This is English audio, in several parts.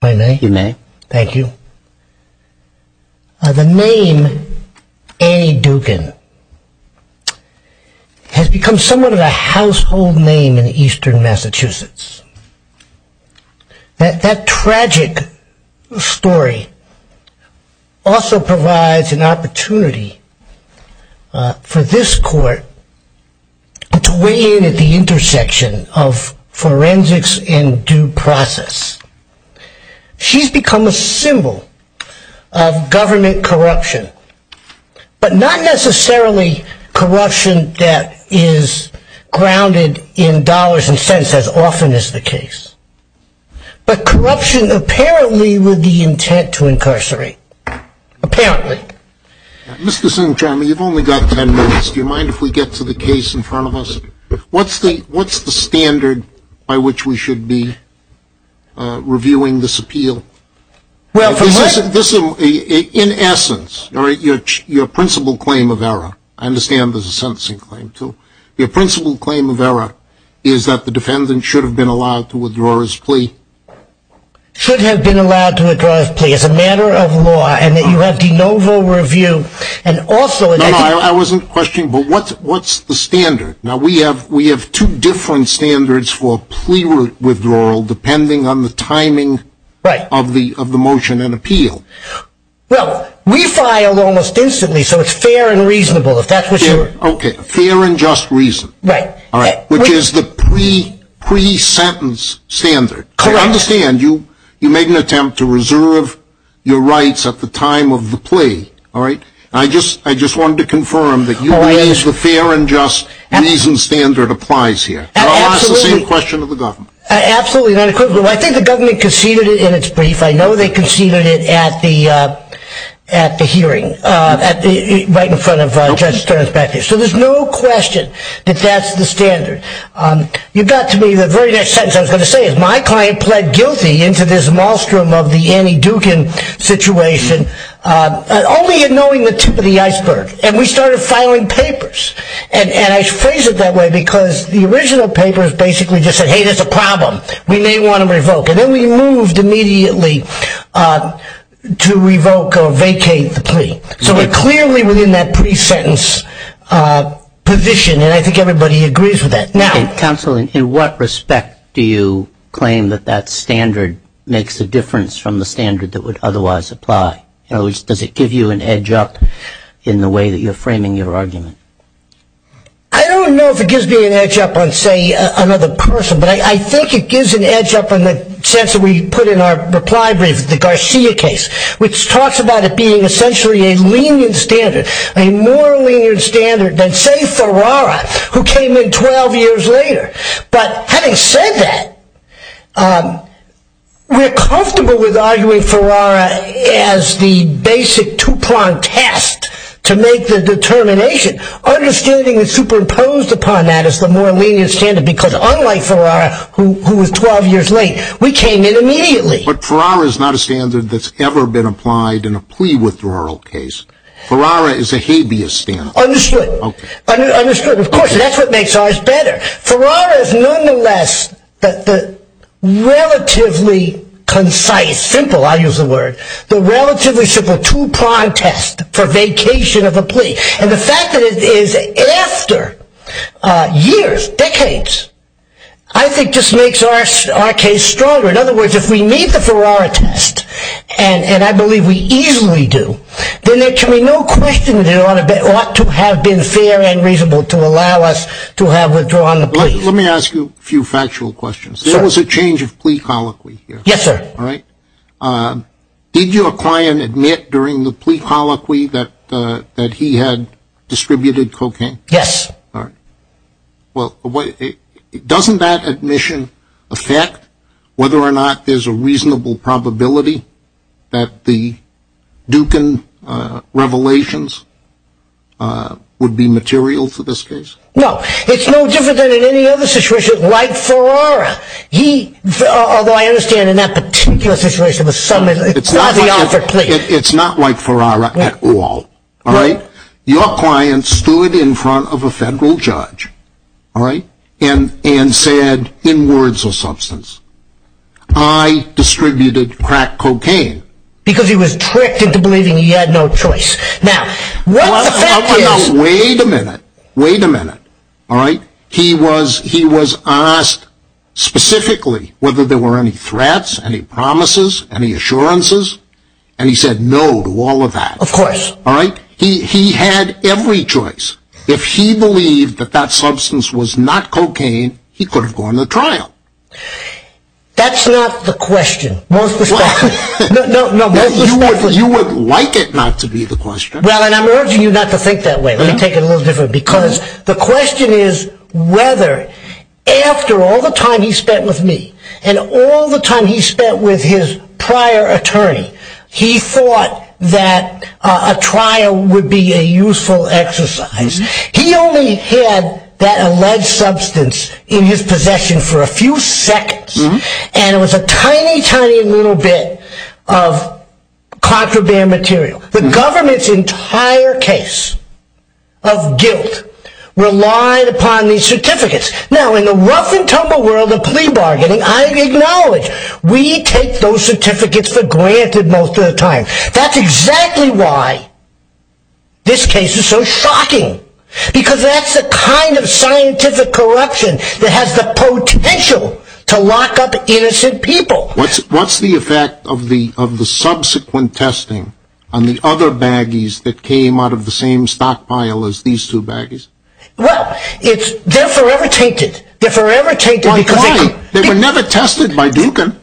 Thank you. The name Annie Dugan has become somewhat of a household name in eastern Massachusetts. That tragic story also provides an opportunity for this court to weigh in at the intersection of forensics and due process. She's become a symbol of government corruption, but not necessarily corruption that is grounded in dollars and cents as often as the case, but corruption apparently with the intent to incarcerate. Apparently. Mr. Sinchrom, you've only got 10 minutes. Do you mind if we get to the case in front of us? What's the standard by which we should be reviewing this appeal? In essence, your principal claim of error, I understand there's a sentencing claim too, your principal claim of error is that the defendant should have been allowed to withdraw his plea. Should have been allowed to withdraw his plea as a matter of law and that you have de novo review and also No, no, I wasn't questioning, but what's the standard? Now we have two different standards for plea withdrawal depending on the timing of the motion and appeal. Well, we filed almost instantly so it's fair and reasonable if that's what you're Okay, fair and just reason, which is the pre-sentence standard. I understand you made an attempt to reserve your rights at the time of the plea. I just wanted to confirm that you believe the fair and just reason standard applies here. I think the government conceded it in its brief. I know they conceded it at the hearing right in front of Judge Stearns back there. So there's no question that that's the standard. You got to me the very next sentence I was going to say is my client pled guilty into this maelstrom of the Annie Dukin situation only in knowing the tip of the iceberg. And we started filing papers. And I phrase it that way because the original papers basically just said, hey, there's a problem. We may want to revoke. And then we moved immediately to revoke or vacate the plea. So we're clearly within that pre-sentence position. And I think everybody agrees with that. Counsel, in what respect do you claim that that standard makes a difference from the standard that would otherwise apply? In other words, does it give you an edge up in the way that you're framing your argument? I don't know if it gives me an edge up on, say, another person. But I think it gives an edge up on the sense that we put in our reply brief, the Garcia case, which talks about it being essentially a lenient standard, a more lenient standard than, say, Ferrara, who came in 12 years later. But having said that, we're comfortable with arguing Ferrara as the basic two-pronged test to make the determination. Understanding is superimposed upon that as the more lenient standard because unlike Ferrara, who was 12 years late, we came in immediately. But Ferrara is not a standard that's ever been applied in a plea withdrawal case. Ferrara is a habeas standard. Understood. Of course, that's what makes ours better. Ferrara is nonetheless the relatively concise, simple, I'll use the word, the relatively simple two-pronged test for vacation of a plea. And the fact that it is after years, decades, I think just makes our case stronger. In other words, if we meet the Ferrara test, and I believe we easily do, then there can be no question that it ought to have been fair and reasonable to allow us to have withdrawn the plea. Let me ask you a few factual questions. There was a change of plea colloquy here. Yes, sir. Did your client admit during the plea colloquy that he had distributed cocaine? Yes. Doesn't that admission affect whether or not there's a reasonable probability that the Dukin revelations would be material for this case? No. It's no different than in any other situation like Ferrara. Although I understand in that particular situation, it's not the offer of a plea. It's not like Ferrara at all. Your client stood in front of a federal judge and said, in words or substance, I distributed crack cocaine. Because he was tricked into believing he had no choice. Wait a minute. Wait a minute. He was asked specifically whether there were any threats, any promises, any assurances, and he said no to all of that. Of course. He had every choice. If he believed that that substance was not cocaine, he could have gone to trial. That's not the question. You would like it not to be the question. Well, and I'm urging you not to think that way. Let me take it a little different because the question is whether, after all the time he spent with me and all the time he spent with his prior attorney, he thought that a trial would be a useful exercise. He only had that alleged substance in his possession for a few seconds, and it was a tiny, tiny little bit of contraband material. The government's entire case of guilt relied upon these certificates. Now, in the rough and tumble world of plea bargaining, I acknowledge, we take those certificates for granted most of the time. That's exactly why this case is so shocking. Because that's the kind of scientific corruption that has the potential to lock up innocent people. What's the effect of the subsequent testing on the other baggies that came out of the same stockpile as these two baggies? Well, it's, they're forever tainted. They're forever tainted. They were never tested by Dukin.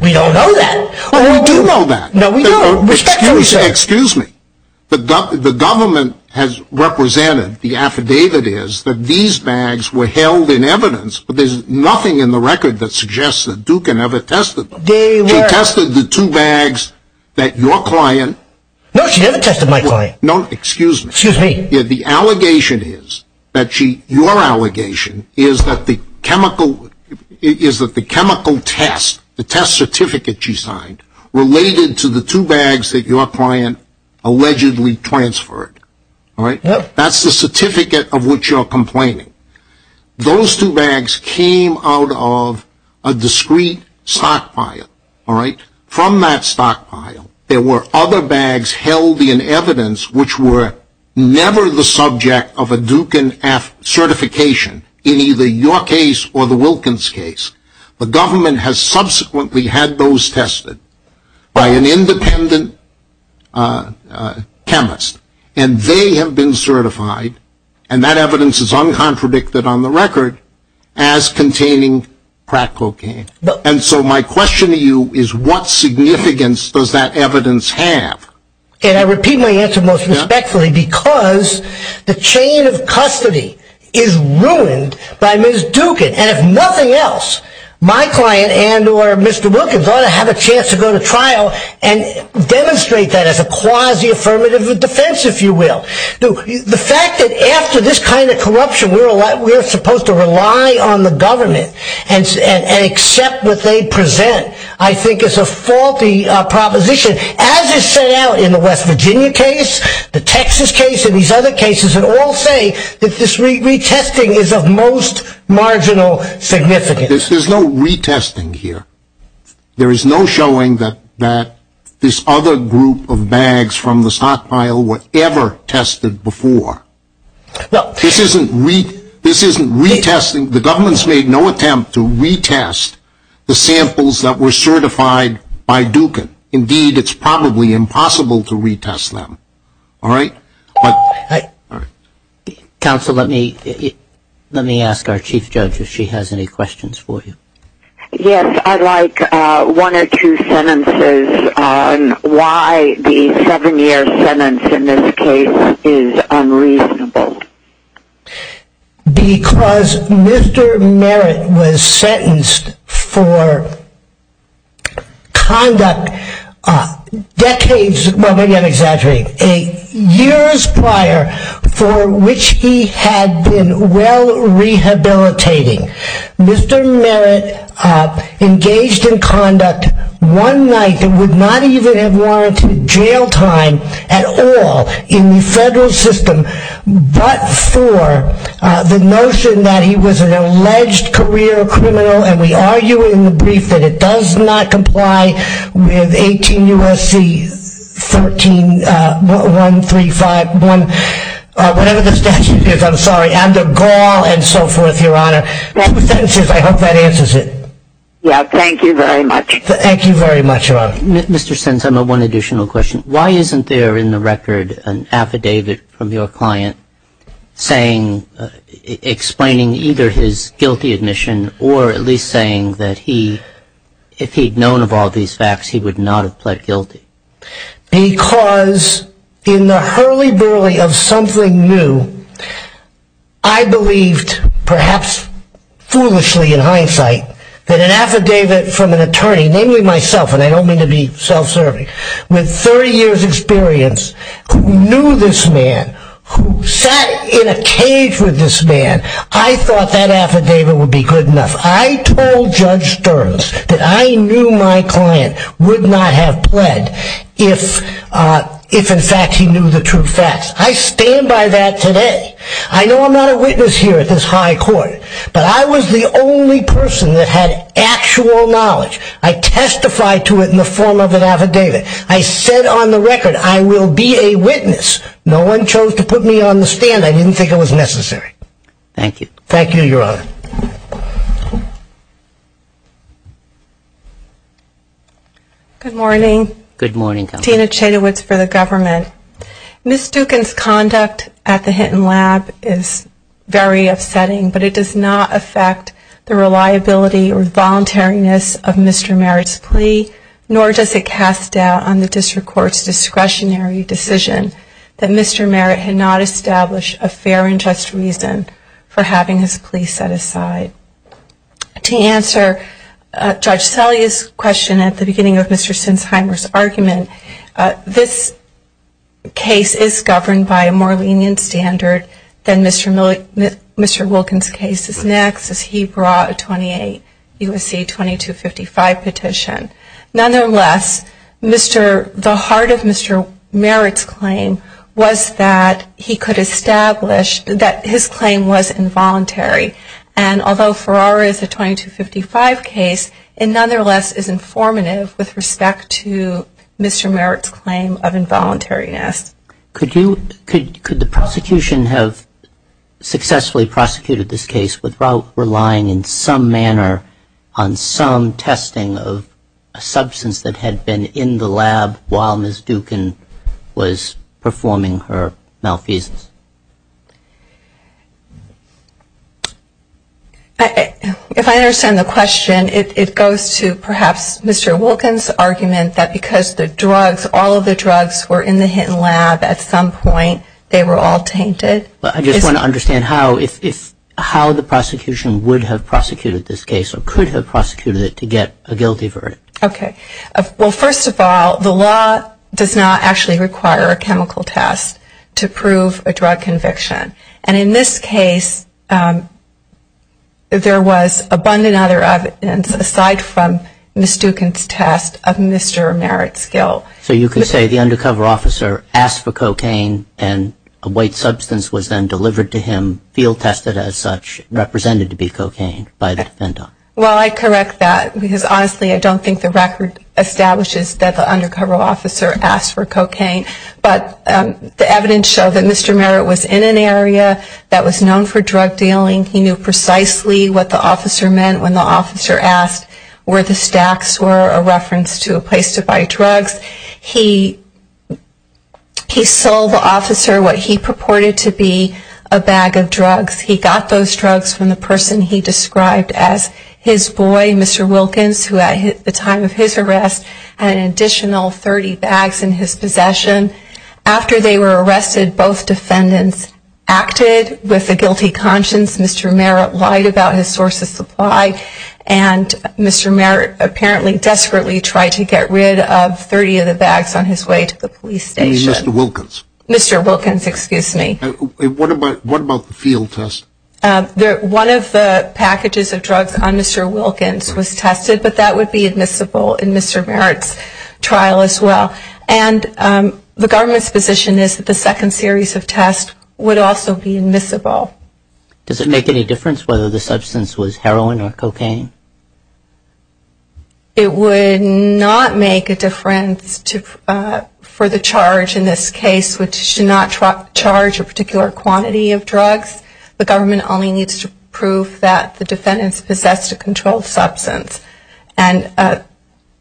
We don't know that. Well, we do know that. No, we do. Respectfully so. Excuse me. The government has represented, the affidavit is, that these bags were held in evidence, but there's nothing in the record that suggests that Dukin ever tested them. They were. He tested the two bags that your client. No, she never tested my client. No, excuse me. Excuse me. The allegation is, your allegation, is that the chemical test, the test certificate she signed, related to the two bags that your client allegedly transferred. Yep. That's the certificate of which you're complaining. Those two bags came out of a discrete stockpile. From that stockpile, there were other bags held in evidence which were never the subject of a Dukin F certification in either your case or the Wilkins case. The government has subsequently had those tested by an independent chemist, and they have been certified, and that evidence is uncontradicted on the record, as containing crack cocaine. And so my question to you is, what significance does that evidence have? And I repeat my answer most respectfully, because the chain of custody is ruined by Ms. Dukin, and if nothing else, my client and or Mr. Wilkins ought to have a chance to go to trial and demonstrate that as a quasi-affirmative of defense, if you will. The fact that after this kind of corruption, we're supposed to rely on the government and accept what they present, I think is a faulty proposition, as is set out in the West Virginia case, the Texas case, and these other cases, that all say that this retesting is of most marginal significance. There's no retesting here. There is no showing that this other group of bags from the stockpile were ever tested before. This isn't retesting. The government's made no attempt to retest the samples that were certified by Dukin. Indeed, it's probably impossible to retest them. All right? Counsel, let me ask our Chief Judge if she has any questions for you. Yes, I'd like one or two sentences on why the seven-year sentence in this case is unreasonable. Because Mr. Merritt was sentenced for conduct decades – well, maybe I'm exaggerating – years prior for which he had been well rehabilitating. Mr. Merritt engaged in conduct one night that would not even have warranted jail time at all in the federal system, but for the notion that he was an alleged career criminal, and we argue in the brief that it does not comply with 18 U.S.C. 13135 – whatever the statute is, I'm sorry – the gall and so forth, Your Honor. Two sentences. I hope that answers it. Yeah, thank you very much. Thank you very much, Your Honor. Mr. Sins, I have one additional question. Why isn't there in the record an affidavit from your client explaining either his guilty admission or at least saying that if he'd known of all these facts, he would not have pled guilty? Because in the hurly-burly of something new, I believed, perhaps foolishly in hindsight, that an affidavit from an attorney – namely myself, and I don't mean to be self-serving – with 30 years' experience, who knew this man, who sat in a cage with this man, I thought that affidavit would be good enough. If I told Judge Stearns that I knew my client would not have pled if, in fact, he knew the true facts, I stand by that today. I know I'm not a witness here at this high court, but I was the only person that had actual knowledge. I testified to it in the form of an affidavit. I said on the record, I will be a witness. No one chose to put me on the stand. I didn't think it was necessary. Thank you. Thank you, Your Honor. Good morning. Good morning, Counsel. Tina Chetawitz for the government. Ms. Dukin's conduct at the Hinton Lab is very upsetting, but it does not affect the reliability or voluntariness of Mr. Merritt's plea, nor does it cast doubt on the district court's discretionary decision that Mr. Merritt had not established a fair and just reason for having his plea set aside. To answer Judge Selye's question at the beginning of Mr. Sinsheimer's argument, this case is governed by a more lenient standard than Mr. Wilkins' case is next, as he brought a 28 U.S.C. 2255 petition. Nonetheless, the heart of Mr. Merritt's claim was that he could establish that his claim was involuntary. And although Ferrara is a 2255 case, it nonetheless is informative with respect to Mr. Merritt's claim of involuntariness. Could the prosecution have successfully prosecuted this case without relying in some manner on some testing of a substance that had been in the lab while Ms. Dukin was performing her malfeasance? If I understand the question, it goes to perhaps Mr. Wilkins' argument that because the drugs, all of the drugs were in the Hinton Lab at some point, they were all tainted. I just want to understand how the prosecution would have prosecuted this case or could have prosecuted it to get a guilty verdict. Well, first of all, the law does not actually require a chemical test to prove a drug conviction. And in this case, there was abundant evidence aside from Ms. Dukin's test of Mr. Merritt's guilt. So you could say the undercover officer asked for cocaine and a white substance was then delivered to him, field tested as such, represented to be cocaine by the defendant. Well, I correct that because honestly I don't think the record establishes that the undercover officer asked for cocaine. But the evidence showed that Mr. Merritt was in an area that was known for drug dealing. He knew precisely what the officer meant when the officer asked where the stacks were, a reference to a place to buy drugs. He sold the officer what he purported to be a bag of drugs. He got those drugs from the person he described as his boy, Mr. Wilkins, who at the time of his arrest had an additional 30 bags in his possession. After they were arrested, both defendants acted with a guilty conscience. Mr. Merritt lied about his source of supply, and Mr. Merritt apparently desperately tried to get rid of 30 of the bags on his way to the police station. Mr. Wilkins. Mr. Wilkins, excuse me. What about the field test? One of the packages of drugs on Mr. Wilkins was tested, but that would be admissible in Mr. Merritt's trial as well. And the government's position is that the second series of tests would also be admissible. Does it make any difference whether the substance was heroin or cocaine? It would not make a difference for the charge in this case, which should not charge a particular quantity of drugs. The government only needs to prove that the defendants possessed a controlled substance. And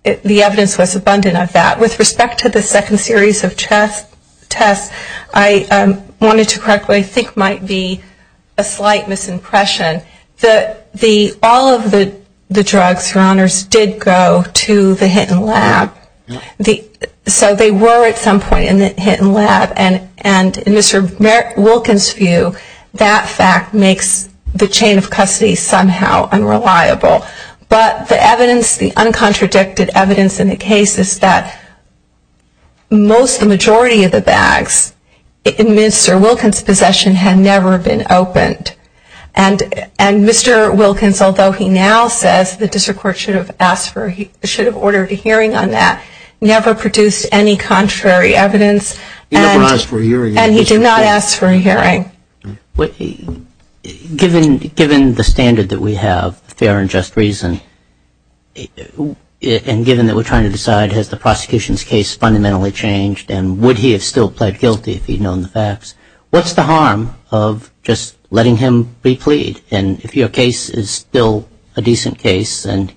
the evidence was abundant of that. With respect to the second series of tests, I wanted to correct what I think might be a slight misimpression. All of the drugs, Your Honors, did go to the Hinton Lab. So they were at some point in the Hinton Lab. And in Mr. Wilkins' view, that fact makes the chain of custody somehow unreliable. But the evidence, the uncontradicted evidence in the case is that most, the majority of the bags in Mr. Wilkins' possession had never been opened. And Mr. Wilkins, although he now says the district court should have ordered a hearing on that, never produced any contrary evidence. He never asked for a hearing. And he did not ask for a hearing. Given the standard that we have, fair and just reason, and given that we're trying to decide has the prosecution's case fundamentally changed and would he have still pled guilty if he'd known the facts, what's the harm of just letting him be plead? And if your case is still a decent case and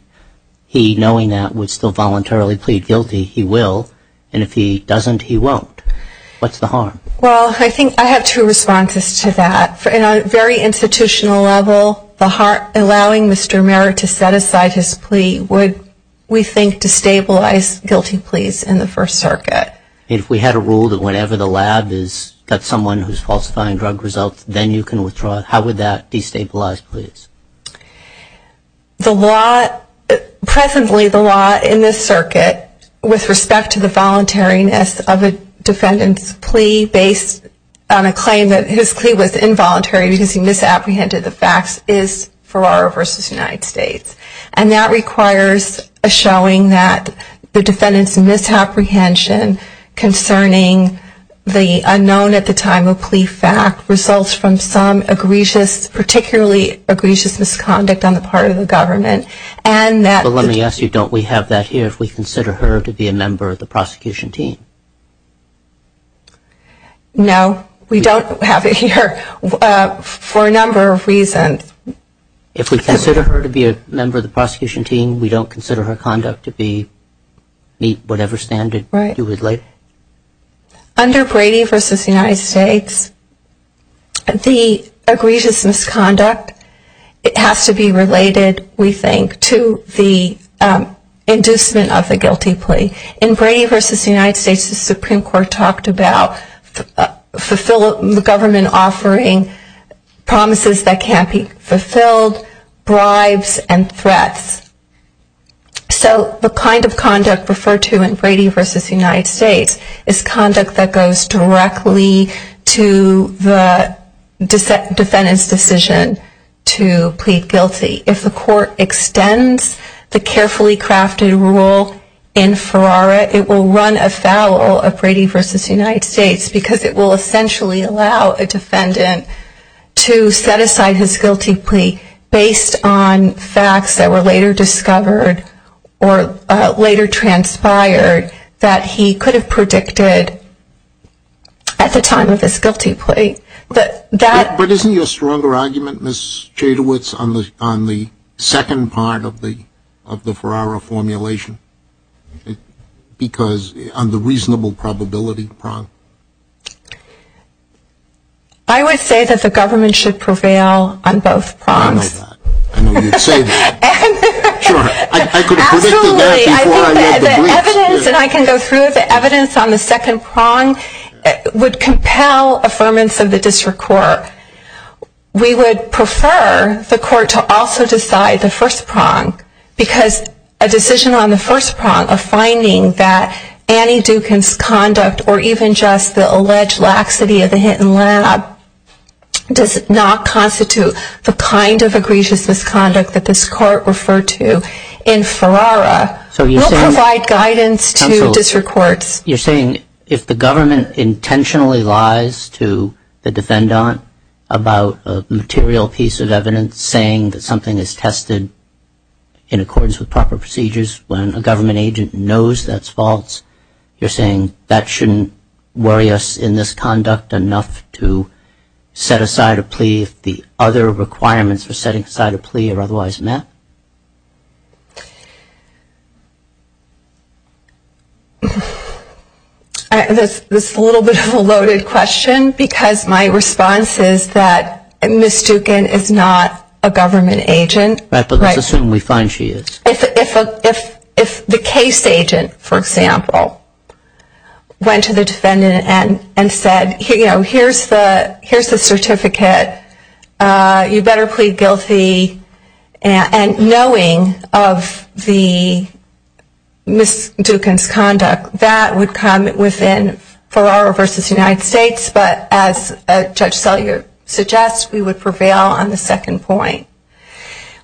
he, knowing that, would still voluntarily plead guilty, he will. And if he doesn't, he won't. What's the harm? Well, I think I have two responses to that. On a very institutional level, allowing Mr. Merritt to set aside his plea would, we think, destabilize guilty pleas in the First Circuit. If we had a rule that whenever the lab has got someone who's falsifying drug results, then you can withdraw it, how would that destabilize pleas? Presently, the law in this circuit, with respect to the voluntariness of a defendant's plea based on a claim that his plea was involuntary because he misapprehended the facts, is Ferraro v. United States. And that requires a showing that the defendant's misapprehension concerning the unknown at the time of plea fact results from some egregious, particularly egregious misconduct on the part of the government. But let me ask you, don't we have that here if we consider her to be a member of the prosecution team? No, we don't have it here for a number of reasons. If we consider her to be a member of the prosecution team, we don't consider her conduct to meet whatever standard you would like? Under Brady v. United States, the egregious misconduct has to be related, we think, to the inducement of the guilty plea. In Brady v. United States, the Supreme Court talked about the government offering promises that can't be fulfilled, bribes, and threats. So the kind of conduct referred to in Brady v. United States is conduct that goes directly to the defendant's decision to plead guilty. If the court extends the carefully crafted rule in Ferraro, it will run afoul of Brady v. United States because it will essentially allow a defendant to set aside his guilty plea based on facts that were later discovered or later transpired that he could have predicted at the time of his guilty plea. But isn't your stronger argument, Ms. Jadowitz, on the second part of the Ferraro formulation? Because on the reasonable probability prong? I would say that the government should prevail on both prongs. I know that. I know you'd say that. Sure. I could have predicted that before I read the briefs. Absolutely. I think that the evidence, and I can go through it, the evidence on the second prong would compel affirmance of the district court. We would prefer the court to also decide the first prong because a decision on the first prong of finding that Annie Dukin's conduct or even just the alleged laxity of the Hinton lab does not constitute the kind of egregious misconduct that this court referred to in Ferraro will provide guidance to district courts. You're saying if the government intentionally lies to the defendant about a material piece of evidence saying that something is tested in accordance with proper procedures when a government agent knows that's false, you're saying that shouldn't worry us in this conduct enough to set aside a plea if the other requirements for setting aside a plea are otherwise met? This is a little bit of a loaded question because my response is that Ms. Dukin is not a government agent. Let's assume we find she is. If the case agent, for example, went to the defendant and said here's the certificate, you better plead guilty, and knowing of the Ms. Dukin's conduct, that would come within Ferraro v. United States, but as Judge Sellier suggests, we would prevail on the second point.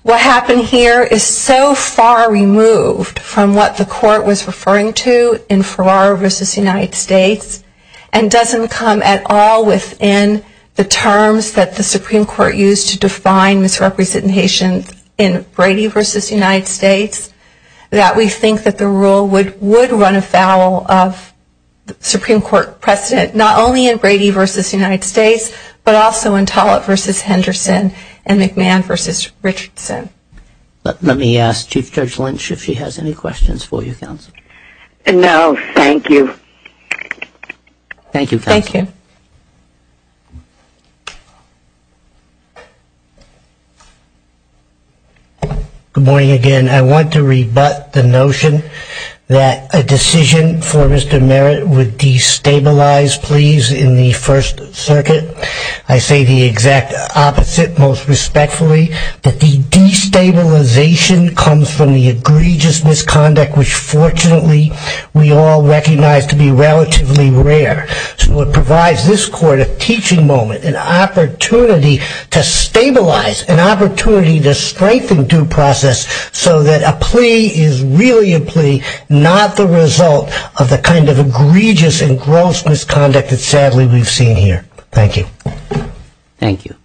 What happened here is so far removed from what the court was referring to in Ferraro v. United States and doesn't come at all within the terms that the Supreme Court used to define misrepresentation in Brady v. United States that we think that the rule would run afoul of the Supreme Court precedent, not only in Brady v. United States, but also in Tollett v. Henderson and McMahon v. Richardson. Let me ask Chief Judge Lynch if she has any questions for you, Counsel. No, thank you. Thank you, Counsel. Good morning, again. I want to rebut the notion that a decision for Mr. Merritt would destabilize pleas in the First Circuit. I say the exact opposite, most respectfully, that the destabilization comes from the egregious misconduct, which fortunately we all recognize to be relatively rare. So it provides this court a teaching moment, an opportunity to stabilize, an opportunity to strengthen due process so that a plea is really a plea, not the result of the kind of egregious and gross misconduct that sadly we've seen here. Thank you.